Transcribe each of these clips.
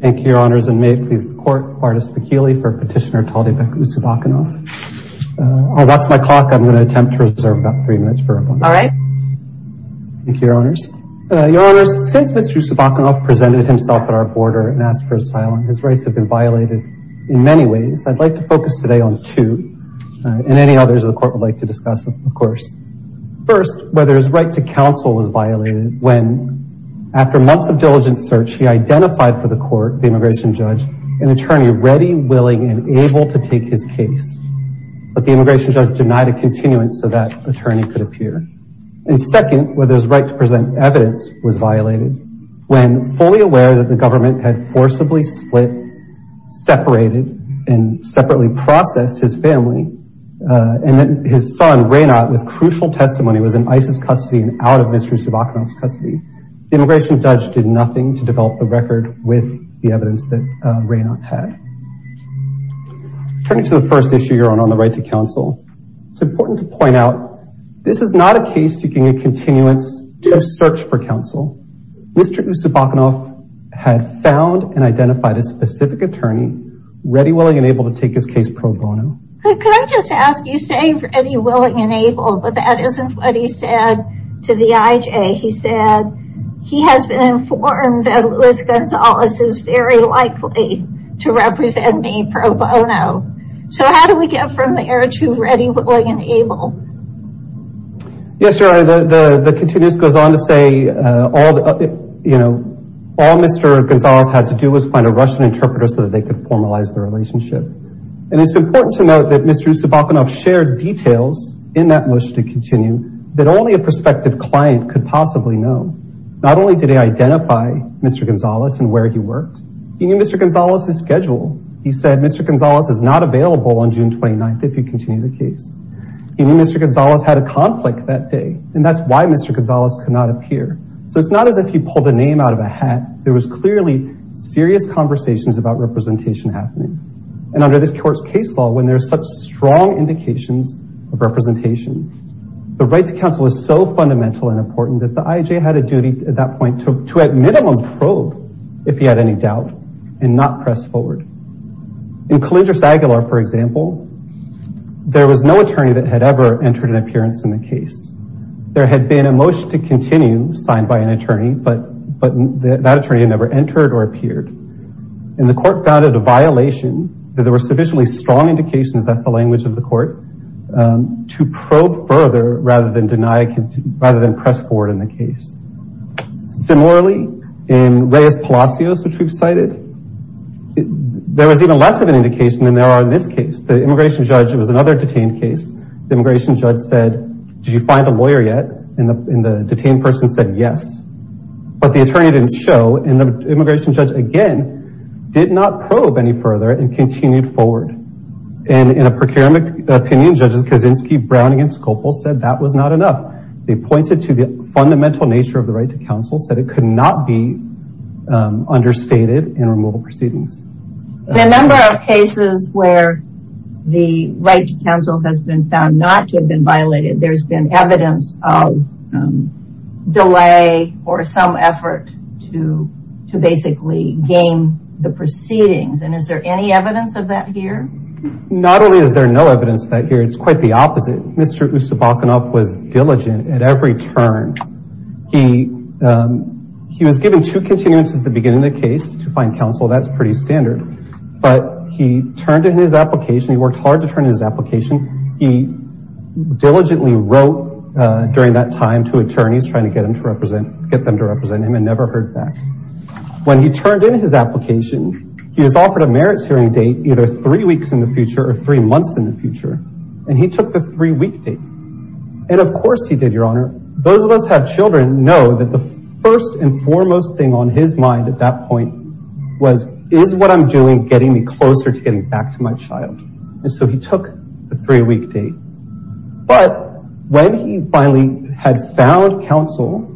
Thank you, Your Honors, and may it please the Court, Bartis Bakili for Petitioner Taldybek Usubakunov. Oh, that's my clock. I'm going to attempt to reserve about three minutes for a moment. All right. Thank you, Your Honors. Your Honors, since Mr. Usubakunov presented himself at our border and asked for asylum, his rights have been violated in many ways. I'd like to focus today on two, and any others the Court would like to discuss, of course. First, whether his right to counsel was violated when, after months of diligent search, he identified for the Court, the immigration judge, an attorney ready, willing, and able to take his case. But the immigration judge denied a continuance so that attorney could appear. And second, whether his right to present evidence was violated when, fully aware that the government had forcibly split, separated, and separately processed his family, and that his son, Reynat, with crucial testimony, was in ISIS custody and out of Mr. Usubakunov's custody, the immigration judge did nothing to develop the record with the evidence that Reynat had. Turning to the first issue, Your Honor, on the right to counsel, it's important to point out this is not a case seeking a continuance to a search for counsel. Mr. Usubakunov had found and identified a specific attorney, ready, willing, and able to take his case pro bono. Could I just ask, you say ready, willing, and able, but that isn't what he said to the IJ. He said he has been informed that Luis Gonzalez is very likely to represent me pro bono. So how do we get from there to ready, willing, and able? Yes, Your Honor, the continuance goes on to say all Mr. Gonzalez had to do was find a Russian interpreter so that they could formalize the relationship. And it's important to note that Mr. Usubakunov shared details in that motion to continue that only a prospective client could possibly know. Not only did he identify Mr. Gonzalez and where he worked, he knew Mr. Gonzalez's schedule. He said Mr. Gonzalez is not available on June 29th if you continue the case. He knew Mr. Gonzalez had a conflict that day, and that's why Mr. Gonzalez could not appear. So it's not as if he pulled a name out of a hat. There was clearly serious conversations about representation happening. And under this court's case law, when there's such strong indications of representation, the right to counsel is so fundamental and important that the I.J. had a duty at that point to at minimum probe if he had any doubt and not press forward. In Collinger-Saguilar, for example, there was no attorney that had ever entered an appearance in the case. There had been a motion to continue signed by an attorney, but that attorney had never entered or appeared. And the court found it a violation that there were sufficiently strong indications, that's the language of the court, to probe further rather than press forward in the case. Similarly, in Reyes-Palacios, which we've cited, there was even less of an indication than there are in this case. The immigration judge, it was another detained case, the immigration judge said, did you find a lawyer yet? And the detained person said yes. But the attorney didn't show, and the immigration judge, again, did not probe any further and continued forward. And in a procurement opinion, judges Kaczynski, Brown, and Scopel said that was not enough. They pointed to the fundamental nature of the right to counsel, said it could not be understated in removal proceedings. The number of cases where the right to counsel has been found not to have been violated, there's been evidence of delay or some effort to basically gain the proceedings. And is there any evidence of that here? Not only is there no evidence of that here, it's quite the opposite. Mr. Ustabakanov was diligent at every turn. He was given two continuance at the beginning of the case to find counsel, that's pretty standard. But he turned in his application, he worked hard to turn in his application, he diligently wrote during that time to attorneys trying to get them to represent him and never heard back. When he turned in his application, he was offered a merits hearing date, either three weeks in the future or three months in the future, and he took the three-week date. And of course he did, Your Honor. Those of us who have children know that the first and foremost thing on his mind at that point was, is what I'm doing getting me closer to getting back to my child? And so he took the three-week date. But when he finally had found counsel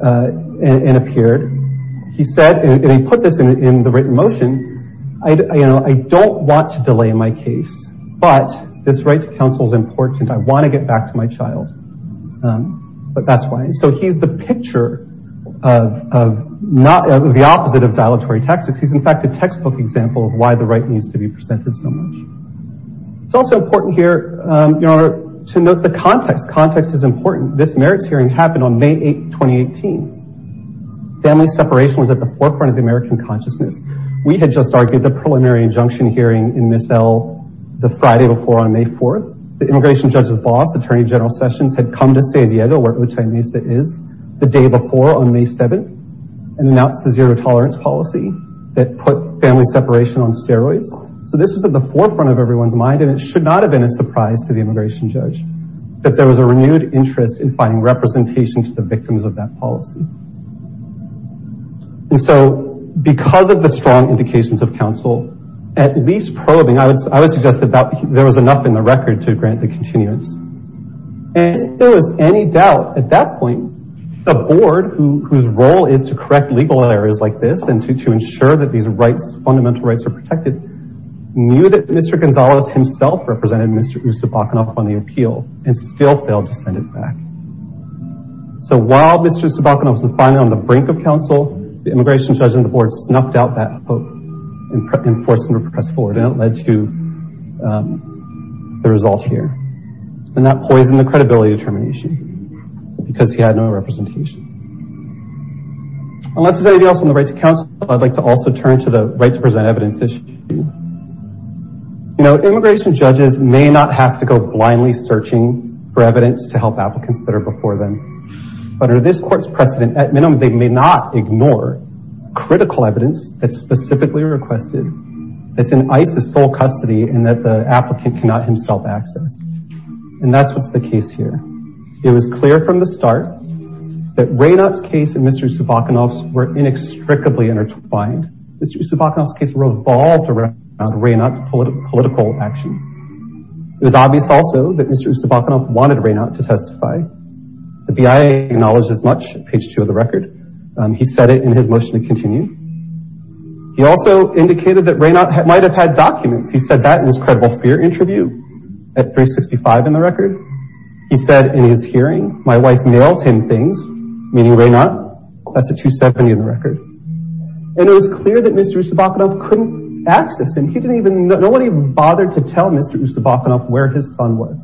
and appeared, he said, and he put this in the written motion, I don't want to delay my case, but this right to counsel is important. I want to get back to my child. But that's why. So he's the picture of the opposite of dilatory tactics. He's in fact a textbook example of why the right needs to be presented so much. It's also important here, Your Honor, to note the context. Context is important. This merits hearing happened on May 8, 2018. Family separation was at the forefront of the American consciousness. We had just argued the preliminary injunction hearing in Miss L the Friday before on May 4th. The immigration judge's boss, Attorney General Sessions, had come to San Diego, where Otay Mesa is, the day before on May 7th and announced the zero tolerance policy that put family separation on steroids. So this was at the forefront of everyone's mind, and it should not have been a surprise to the immigration judge that there was a renewed interest in finding representation to the victims of that policy. And so because of the strong indications of counsel, at least probing, I would suggest that there was enough in the record to grant the continuance. And if there was any doubt at that point, a board whose role is to correct legal errors like this and to ensure that these rights, fundamental rights, are protected, knew that Mr. Gonzalez himself represented Mr. Usabakanoff on the appeal and still failed to send it back. So while Mr. Usabakanoff was finally on the brink of counsel, the immigration judge and the board snuffed out that hope and forced him to press forward. And it led to the result here. And that poisoned the credibility determination because he had no representation. Unless there's anything else on the right to counsel, I'd like to also turn to the right to present evidence issue. You know, immigration judges may not have to go blindly searching for evidence to help applicants that are before them. But under this court's precedent, at minimum, they may not ignore critical evidence that's specifically requested, that's in ICE's sole custody, and that the applicant cannot himself access. And that's what's the case here. It was clear from the start that Raynott's case and Mr. Usabakanoff's were inextricably intertwined. Mr. Usabakanoff's case revolved around Raynott's political actions. It was obvious also that Mr. Usabakanoff wanted Raynott to testify. The BIA acknowledged as much, page two of the record. He said it in his motion to continue. He also indicated that Raynott might have had documents. He said that in his credible fear interview at 365 in the record. He said in his hearing, my wife nails him things, meaning Raynott. That's a 270 in the record. And it was clear that Mr. Usabakanoff couldn't access him. He didn't even, nobody bothered to tell Mr. Usabakanoff where his son was.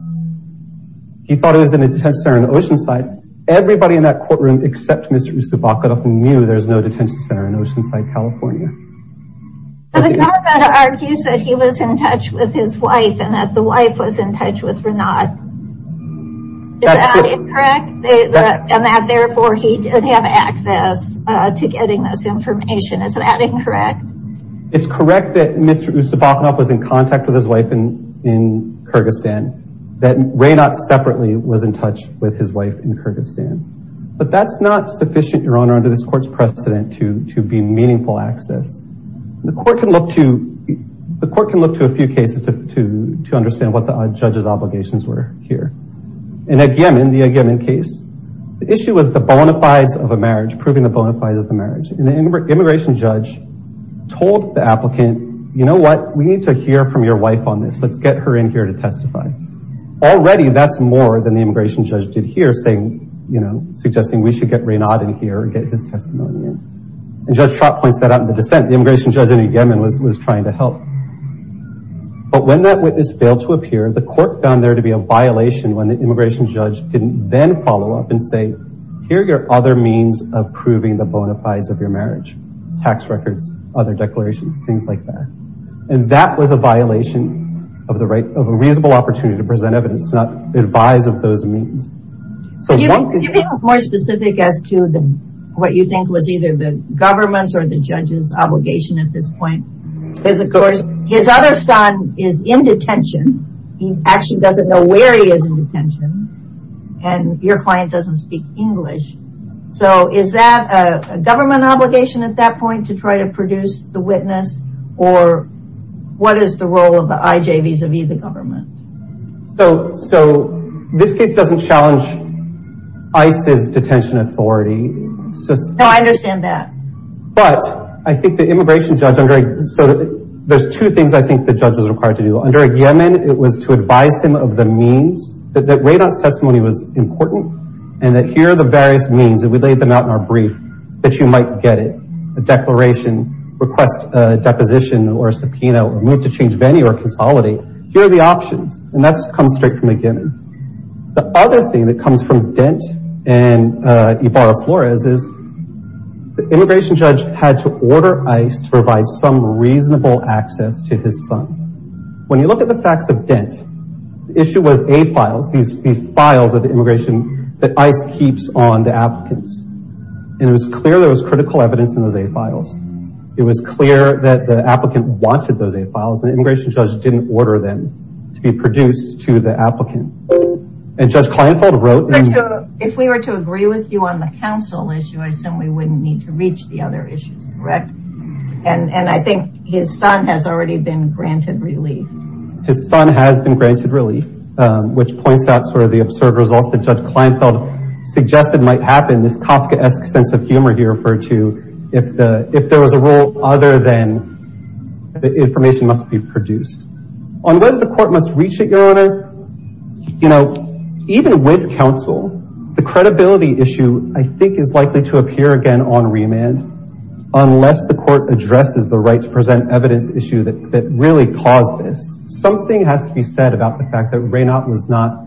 He thought he was in a detention center in Oceanside. Everybody in that courtroom except Mr. Usabakanoff knew there was no detention center in Oceanside, California. The government argues that he was in touch with his wife and that the wife was in touch with Raynott. Is that incorrect? And that therefore he did have access to getting this information. Is that incorrect? It's correct that Mr. Usabakanoff was in contact with his wife in Kyrgyzstan. That Raynott separately was in touch with his wife in Kyrgyzstan. But that's not sufficient, Your Honor, under this court's precedent to be meaningful access. The court can look to a few cases to understand what the judge's obligations were here. And again, in the Agyemen case, the issue was the bona fides of a marriage, proving the bona fides of a marriage. And the immigration judge told the applicant, you know what, we need to hear from your wife on this. Let's get her in here to testify. Already that's more than the immigration judge did here saying, you know, suggesting we should get Raynott in here and get his testimony in. And Judge Trott points that out in the dissent. The immigration judge in the Agyemen was trying to help. But when that witness failed to appear, the court found there to be a violation when the immigration judge didn't then follow up and say, here are your other means of proving the bona fides of your marriage, tax records, other declarations, things like that. And that was a violation of a reasonable opportunity to present evidence to advise of those means. Could you be more specific as to what you think was either the government's or the judge's obligation at this point? His other son is in detention. He actually doesn't know where he is in detention. And your client doesn't speak English. So is that a government obligation at that point to try to produce the witness? Or what is the role of the IJ vis-a-vis the government? So this case doesn't challenge ICE's detention authority. No, I understand that. But I think the immigration judge, there's two things I think the judge was required to do. Under a Yemen, it was to advise him of the means, that Radon's testimony was important, and that here are the various means, and we laid them out in our brief, that you might get it. A declaration, request a deposition or a subpoena, or move to change venue or consolidate. Here are the options. And that comes straight from a Yemen. The other thing that comes from Dent and Ibarra-Flores is the immigration judge had to order ICE to provide some reasonable access to his son. When you look at the facts of Dent, the issue was A-files, these files of immigration that ICE keeps on the applicants. And it was clear there was critical evidence in those A-files. It was clear that the applicant wanted those A-files, and the immigration judge didn't order them to be produced to the applicant. And Judge Kleinfeld wrote... If we were to agree with you on the counsel issue, I assume we wouldn't need to reach the other issues, correct? And I think his son has already been granted relief. His son has been granted relief, which points out sort of the absurd results that Judge Kleinfeld suggested might happen, this Kafka-esque sense of humor he referred to, if there was a rule other than the information must be produced. Unless the court must reach it, Your Honor, you know, even with counsel, the credibility issue, I think, is likely to appear again on remand. Unless the court addresses the right-to-present-evidence issue that really caused this, something has to be said about the fact that Raynaud was not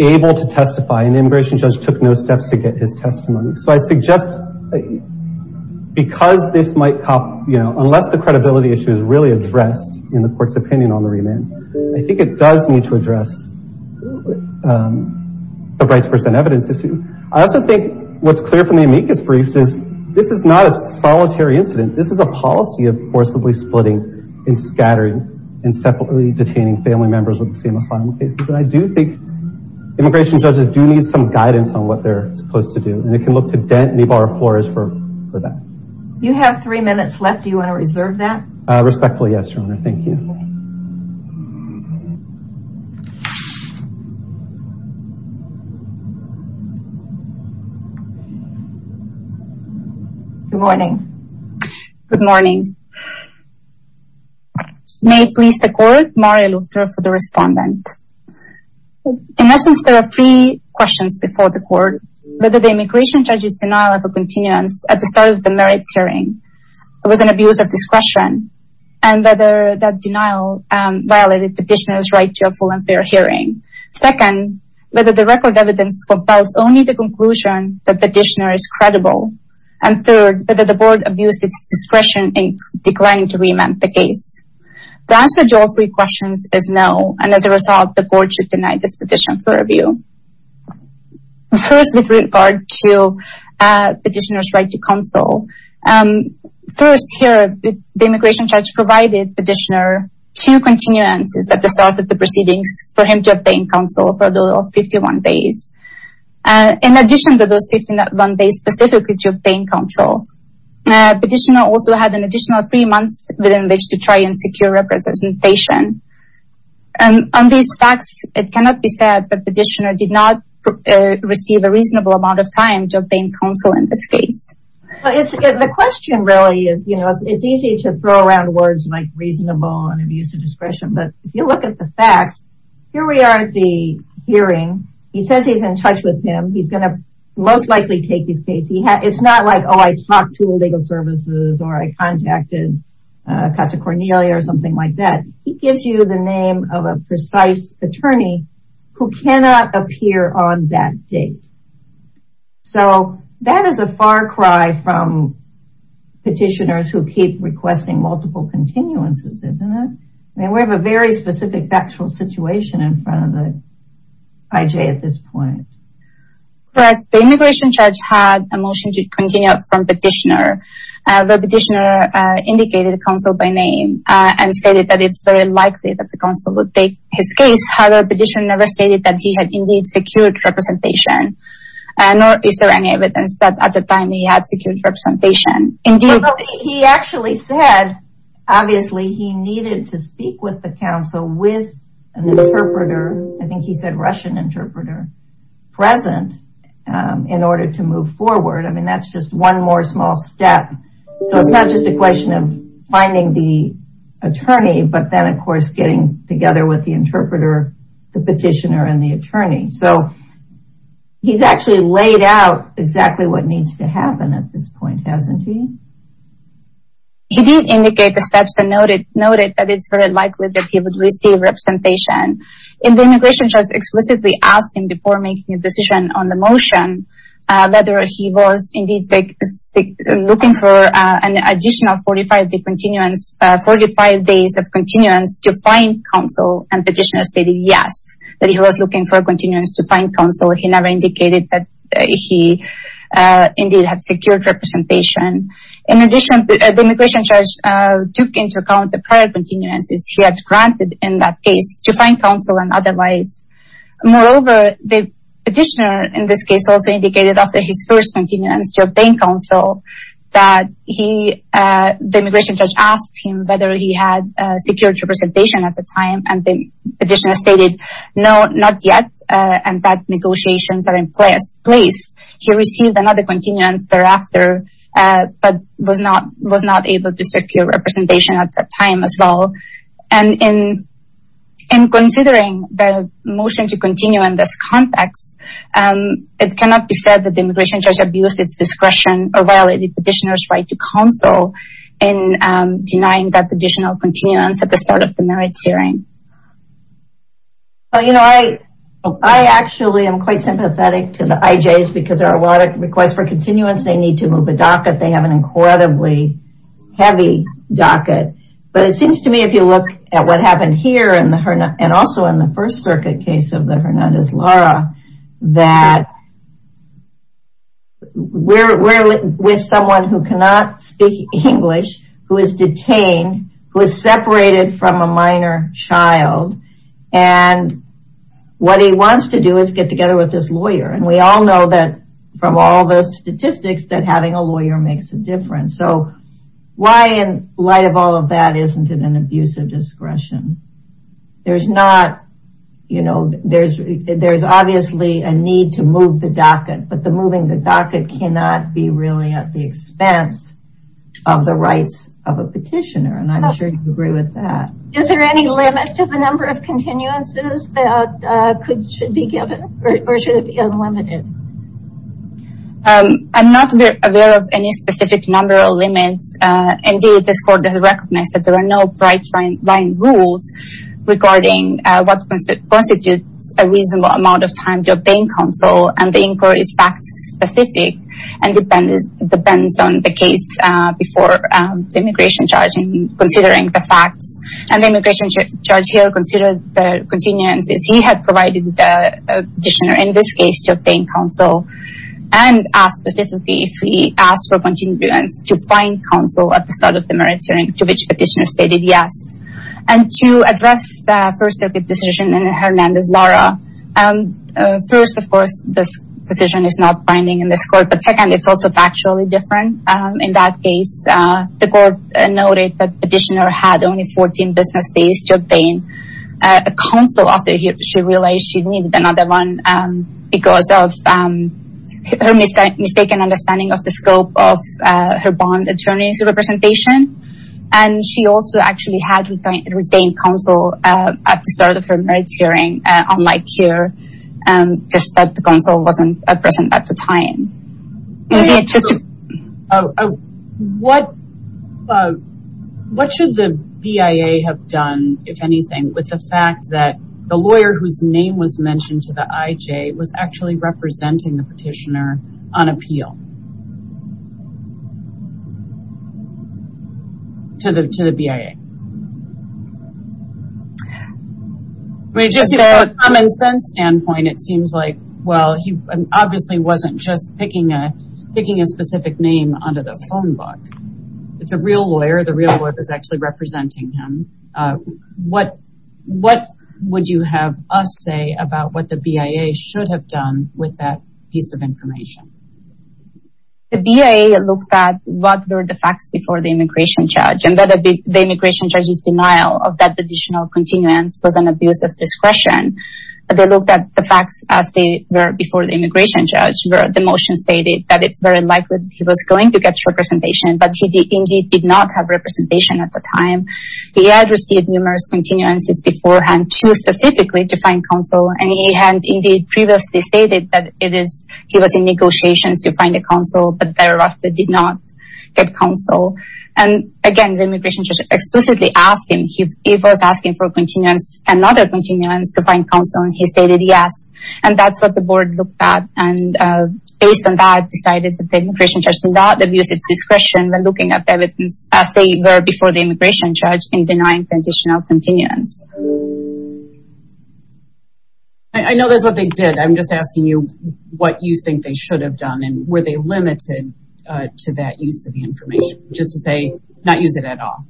able to testify, and the immigration judge took no steps to get his testimony. So I suggest, because this might... Unless the credibility issue is really addressed in the court's opinion on the remand, I think it does need to address the right-to-present-evidence issue. I also think what's clear from the amicus briefs is this is not a solitary incident. This is a policy of forcibly splitting and scattering and separately detaining family members of the same asylum case. But I do think immigration judges do need some guidance on what they're supposed to do, and they can look to Dent and Ibarra Flores for that. You have three minutes left. Do you want to reserve that? Respectfully, yes, Your Honor. Thank you. Good morning. Good morning. May it please the court, Mario Lutero for the respondent. In essence, there are three questions before the court. Whether the immigration judge's denial of a continuance at the start of the merits hearing was an abuse of discretion, and whether that denial violated petitioner's right to a full and fair hearing. Second, whether the record evidence compels only the conclusion that the petitioner is credible. And third, whether the board abused its discretion in declining to remand the case. The answer to all three questions is no, and as a result, the court should deny this petition for review. First, with regard to petitioner's right to counsel. First, here, the immigration judge provided petitioner two continuances at the start of the proceedings for him to obtain counsel for a total of 51 days. In addition to those 51 days specifically to obtain counsel, petitioner also had an additional three months within which to try and secure representation. On these facts, it cannot be said that petitioner did not receive a reasonable amount of time to obtain counsel in this case. The question really is, you know, it's easy to throw around words like reasonable and abuse of discretion, but if you look at the facts, here we are at the hearing. He says he's in touch with him. He's going to most likely take his case. It's not like, oh, I talked to legal services or I contacted Casa Cornelia or something like that. He gives you the name of a precise attorney who cannot appear on that date. So that is a far cry from petitioners who keep requesting multiple continuances, isn't it? I mean, we have a very specific factual situation in front of the IJ at this point. But the immigration judge had a motion to continue from petitioner. The petitioner indicated counsel by name and stated that it's very likely that the counsel would take his case. However, the petitioner stated that he had indeed secured representation. Nor is there any evidence that at the time he had secured representation. He actually said, obviously, he needed to speak with the counsel with an interpreter. I think he said Russian interpreter present in order to move forward. I mean, that's just one more small step. So it's not just a question of finding the attorney, but then, of course, getting together with the interpreter, the petitioner and the attorney. So he's actually laid out exactly what needs to happen at this point, hasn't he? He did indicate the steps and noted that it's very likely that he would receive representation. And the immigration judge explicitly asked him before making a decision on the motion, whether he was indeed looking for an additional 45 days of continuance to find counsel. And petitioner stated, yes, that he was looking for continuance to find counsel. He never indicated that he indeed had secured representation. In addition, the immigration judge took into account the prior continuances he had granted in that case to find counsel and otherwise. Moreover, the petitioner in this case also indicated after his first continuance to obtain counsel, that the immigration judge asked him whether he had secured representation at the time. And the petitioner stated, no, not yet, and that negotiations are in place. He received another continuance thereafter, but was not able to secure representation at that time as well. And in considering the motion to continue in this context, it cannot be said that the immigration judge abused its discretion or violated the petitioner's right to counsel in denying that additional continuance at the start of the merits hearing. You know, I actually am quite sympathetic to the IJs because there are a lot of requests for continuance. They need to move a docket. They have an incredibly heavy docket. But it seems to me if you look at what happened here and also in the First Circuit case of the Hernandez-Lara, that we're with someone who cannot speak English, who is detained, who is separated from a minor child. And what he wants to do is get together with this lawyer. And we all know that from all the statistics that having a lawyer makes a difference. So why in light of all of that isn't it an abuse of discretion? There's not, you know, there's obviously a need to move the docket, but the moving the docket cannot be really at the expense of the rights of a petitioner. And I'm sure you agree with that. Is there any limit to the number of continuances that should be given or should it be unlimited? I'm not aware of any specific number of limits. Indeed, this Court does recognize that there are no bright-line rules regarding what constitutes a reasonable amount of time to obtain counsel. And the inquiry is fact-specific and depends on the case before the immigration judge in considering the facts. And the immigration judge here considered the continuances. He had provided the petitioner in this case to obtain counsel. And asked specifically if he asked for continuance to find counsel at the start of the merits hearing, to which the petitioner stated yes. And to address the First Circuit decision in the Hernandez-Lara, first, of course, this decision is not binding in this Court. But second, it's also factually different. In that case, the Court noted that the petitioner had only 14 business days to obtain counsel. She realized she needed another one because of her mistaken understanding of the scope of her bond attorney's representation. And she also actually had retained counsel at the start of her merits hearing, unlike here, just that the counsel wasn't present at the time. What should the BIA have done, if anything, with the fact that the lawyer whose name was mentioned to the IJ was actually representing the petitioner on appeal to the BIA? I mean, just from a common sense standpoint, it seems like, well, he obviously wasn't just picking a specific name onto the phone book. It's a real lawyer. The real lawyer is actually representing him. What would you have us say about what the BIA should have done with that piece of information? The BIA looked at what were the facts before the immigration judge. And whether the immigration judge's denial of that additional continuance was an abuse of discretion. They looked at the facts as they were before the immigration judge. The motion stated that it's very likely that he was going to get representation, but he indeed did not have representation at the time. He had received numerous continuances beforehand to specifically define counsel. And he had indeed previously stated that he was in negotiations to find a counsel, but thereafter did not get counsel. And, again, the immigration judge explicitly asked him. He was asking for continuance, another continuance to find counsel, and he stated yes. And that's what the board looked at. And based on that, decided that the immigration judge did not abuse its discretion when looking at evidence as they were before the immigration judge in denying the additional continuance. I know that's what they did. I'm just asking you what you think they should have done. And were they limited to that use of the information? Just to say not use it at all.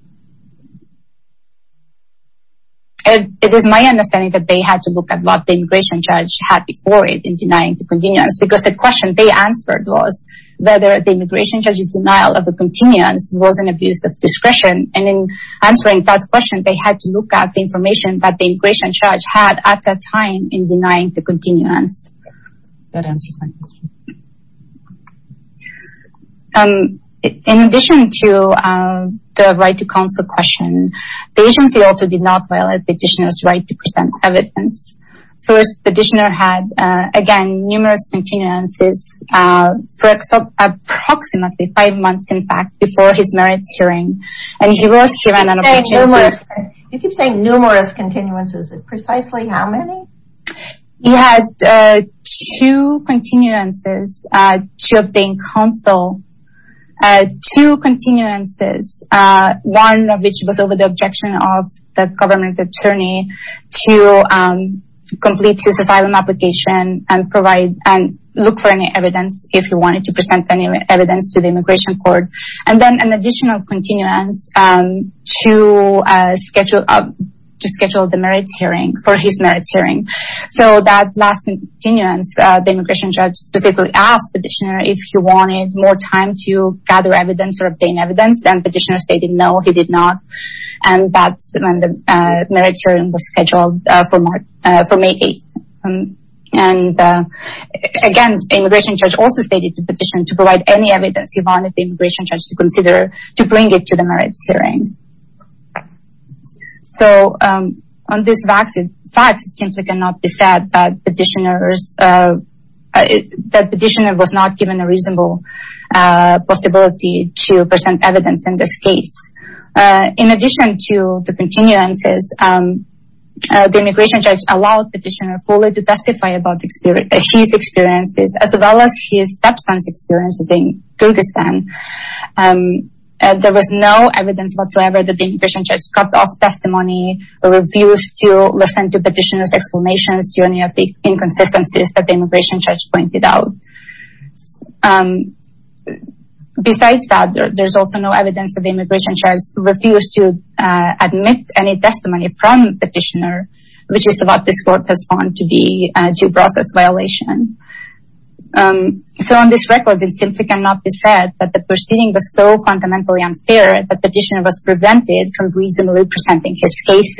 It is my understanding that they had to look at what the immigration judge had before it in denying the continuance. Because the question they answered was whether the immigration judge's denial of the continuance was an abuse of discretion. And in answering that question, they had to look at the information that the immigration judge had at that time in denying the continuance. That answers my question. In addition to the right to counsel question, the agency also did not violate the petitioner's right to present evidence. First, the petitioner had, again, numerous continuances for approximately five months, in fact, before his merits hearing. And he was given an opportunity to- You keep saying numerous continuances. Precisely how many? He had two continuances to obtain counsel. Two continuances. One of which was over the objection of the government attorney to complete his asylum application and look for any evidence, if he wanted to present any evidence to the immigration court. And then an additional continuance to schedule the merits hearing for his merits hearing. So that last continuance, the immigration judge specifically asked the petitioner if he wanted more time to gather evidence or obtain evidence. And the petitioner stated no, he did not. And that's when the merits hearing was scheduled for May 8th. And again, the immigration judge also stated to the petitioner to provide any evidence he wanted the immigration judge to consider to bring it to the merits hearing. So, on these facts, it simply cannot be said that the petitioner was not given a reasonable possibility to present evidence in this case. In addition to the continuances, the immigration judge allowed the petitioner fully to testify about his experiences, as well as his stepson's experiences in Kyrgyzstan. There was no evidence whatsoever that the immigration judge cut off testimony or refused to listen to the petitioner's explanations to any of the inconsistencies that the immigration judge pointed out. Besides that, there's also no evidence that the immigration judge refused to admit any testimony from the petitioner, which is what this court has found to be a due process violation. So on this record, it simply cannot be said that the proceeding was so fundamentally unfair that the petitioner was prevented from reasonably presenting his case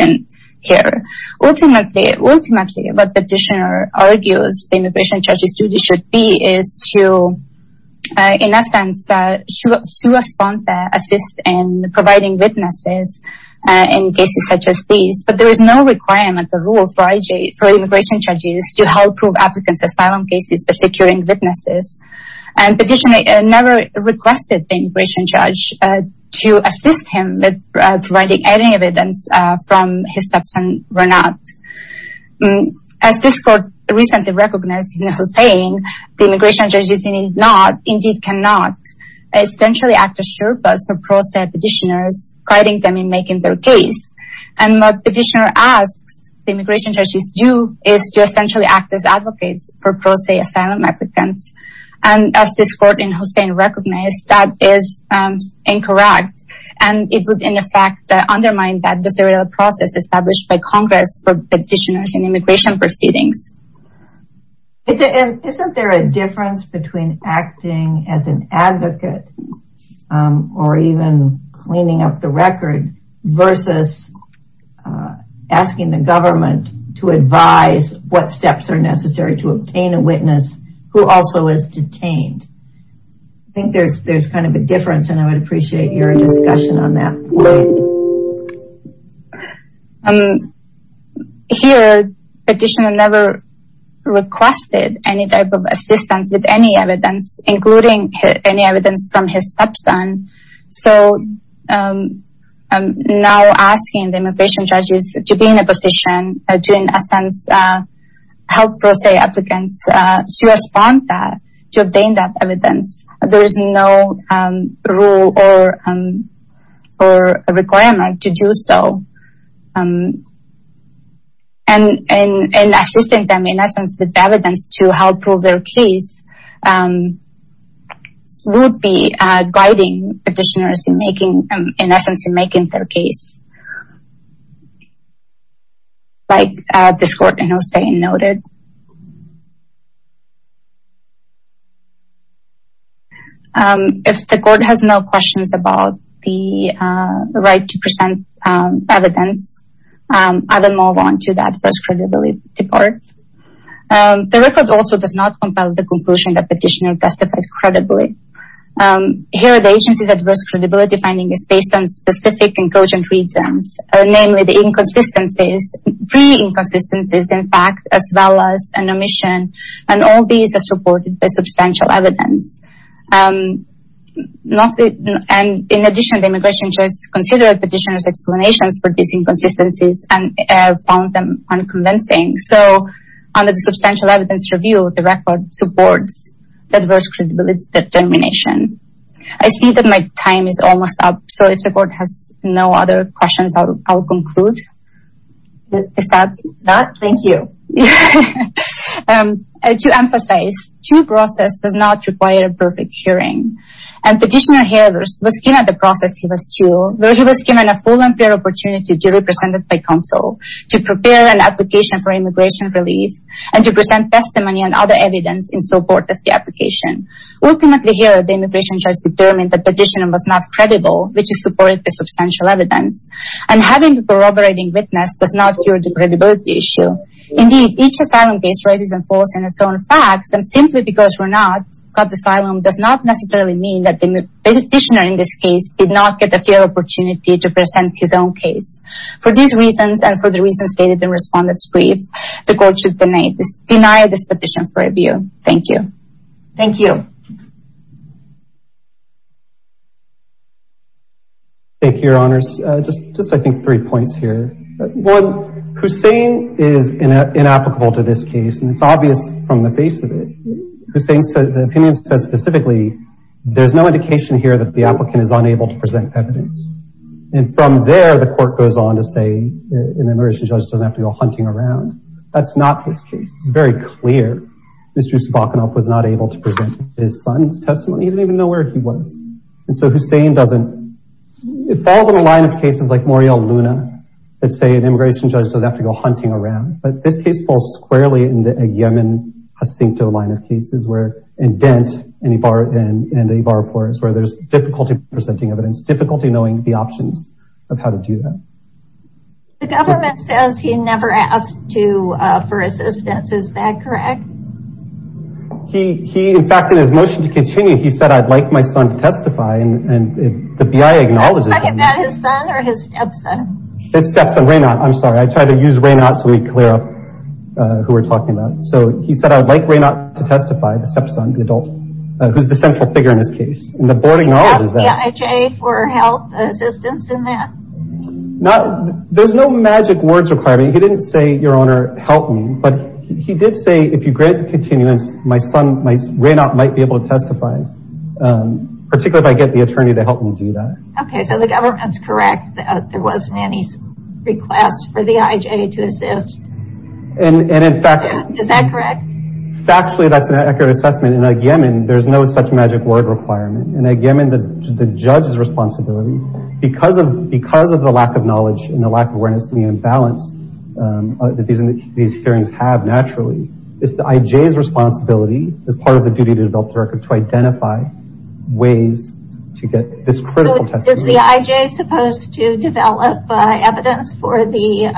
here. Ultimately, what the petitioner argues the immigration judge's duty should be is to, in essence, correspond and assist in providing witnesses in cases such as these. But there is no requirement or rule for immigration judges to help prove applicants' asylum cases for securing witnesses. The petitioner never requested the immigration judge to assist him in providing any evidence from his stepson's run-out. As this court recently recognized in its saying, the immigration judge's need not, indeed cannot, essentially act as sure buzz for pro se petitioners, guiding them in making their case. And what the petitioner asks the immigration judge to do is to essentially act as advocates for pro se asylum applicants. And as this court in Hustain recognized, that is incorrect. And it would, in effect, undermine the procedural process established by Congress for petitioners in immigration proceedings. Isn't there a difference between acting as an advocate or even cleaning up the record versus asking the government to advise what steps are necessary to obtain a witness who also is detained? I think there's kind of a difference and I would appreciate your discussion on that. Here, the petitioner never requested any type of assistance with any evidence, including any evidence from his stepson. So, now asking the immigration judges to be in a position to, in essence, help pro se applicants to respond to that, to obtain that evidence. There is no rule or requirement to do so. And assisting them, in essence, with evidence to help prove their case would be guiding petitioners in making, in essence, in making their case. Like this court in Hustain noted. If the court has no questions about the right to present evidence, I will move on to the adverse credibility part. The record also does not compel the conclusion that the petitioner testified credibly. Here, the agency's adverse credibility finding is based on specific and cogent reasons. Namely, the inconsistencies, pre-inconsistencies in fact, as well as an omission. And all these are supported by substantial evidence. In addition, the immigration judge considered the petitioner's explanations for these inconsistencies and found them unconvincing. So, under the substantial evidence review, the record supports the adverse credibility determination. I see that my time is almost up, so if the court has no other questions, I will conclude. Is that? That, thank you. To emphasize, due process does not require a perfect hearing. And the petitioner here was given the process he was due, where he was given a full and fair opportunity to be represented by counsel, to prepare an application for immigration relief, and to present testimony and other evidence in support of the application. Ultimately here, the immigration judge determined that the petitioner was not credible, which is supported by substantial evidence. And having a corroborating witness does not cure the credibility issue. Indeed, each asylum case raises and falls on its own facts. And simply because we're not cut asylum does not necessarily mean that the petitioner in this case did not get the fair opportunity to present his own case. For these reasons, and for the reasons stated in Respondent's Brief, the court should deny this petition for review. Thank you. Thank you. Thank you, Your Honors. Just, I think, three points here. One, Hussain is inapplicable to this case, and it's obvious from the face of it. Hussain's opinion says specifically, there's no indication here that the applicant is unable to present evidence. And from there, the court goes on to say, the immigration judge doesn't have to go hunting around. That's not his case. It's very clear. Mr. Yusuf Bakunov was not able to present his son's testimony. He didn't even know where he was. And so Hussain doesn't, it falls on a line of cases like Morial Luna, that say an immigration judge doesn't have to go hunting around. But this case falls squarely in the Yemen Jacinto line of cases where, and Dent, and Ibarra Flores, where there's difficulty presenting evidence. Difficulty knowing the options of how to do that. The government says he never asked to, for assistance. Is that correct? He, in fact, in his motion to continue, he said, I'd like my son to testify. And the BIA acknowledges that. Is that his son or his stepson? His stepson, Raynaud. I'm sorry. I tried to use Raynaud so we'd clear up who we're talking about. So he said, I'd like Raynaud to testify, the stepson, the adult, who's the central figure in this case. And the board acknowledges that. He asked the IHA for help, assistance in that. Now, there's no magic words requirement. He didn't say, your honor, help me. But he did say, if you grant the continuance, my son, Raynaud, might be able to testify. Particularly if I get the attorney to help me do that. Okay. So the government's correct that there wasn't any request for the IHA to assist. And, in fact. Is that correct? Factually, that's an accurate assessment. In a Yemen, there's no such magic word requirement. In a Yemen, the judge's responsibility, because of the lack of knowledge and the lack of awareness, and the imbalance that these hearings have, naturally, is the IJ's responsibility, as part of the duty to develop the record, to identify ways to get this critical testimony. So is the IJ supposed to develop evidence for the,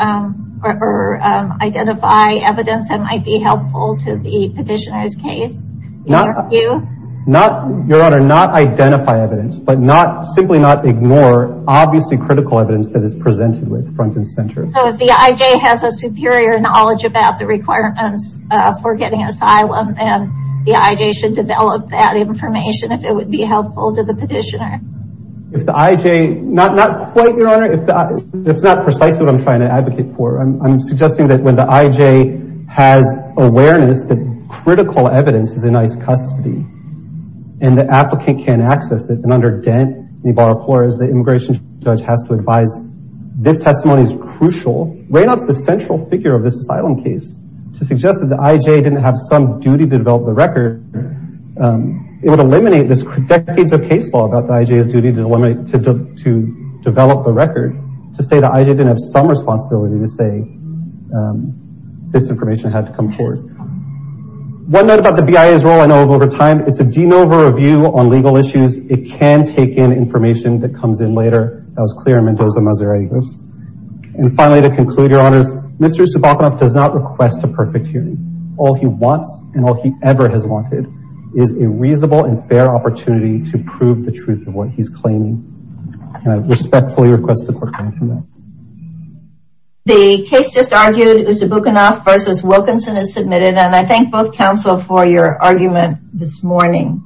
or identify evidence that might be helpful to the petitioner's case? Not, your honor, not identify evidence. But not, simply not ignore, obviously, critical evidence that is presented with front and center. So if the IJ has a superior knowledge about the requirements for getting asylum, then the IJ should develop that information if it would be helpful to the petitioner. If the IJ, not quite, your honor. That's not precisely what I'm trying to advocate for. I'm suggesting that when the IJ has awareness that critical evidence is in ICE custody, and the applicant can't access it, and under DENT, the immigration judge has to advise, this testimony is crucial. Raynaud's the central figure of this asylum case. To suggest that the IJ didn't have some duty to develop the record, it would eliminate this decades of case law about the IJ's duty to develop the record, to say the IJ didn't have some responsibility to say this information had to come forward. One note about the BIA's role I know of over time. It's a de novo review on legal issues. It can take in information that comes in later. That was clear in Mendoza, MO. And finally, to conclude, your honors, Mr. Usabukunov does not request a perfect hearing. All he wants, and all he ever has wanted, is a reasonable and fair opportunity to prove the truth of what he's claiming. And I respectfully request the court grant him that. The case just argued, Usabukunov v. Wilkinson is submitted, and I thank both counsel for your argument this morning.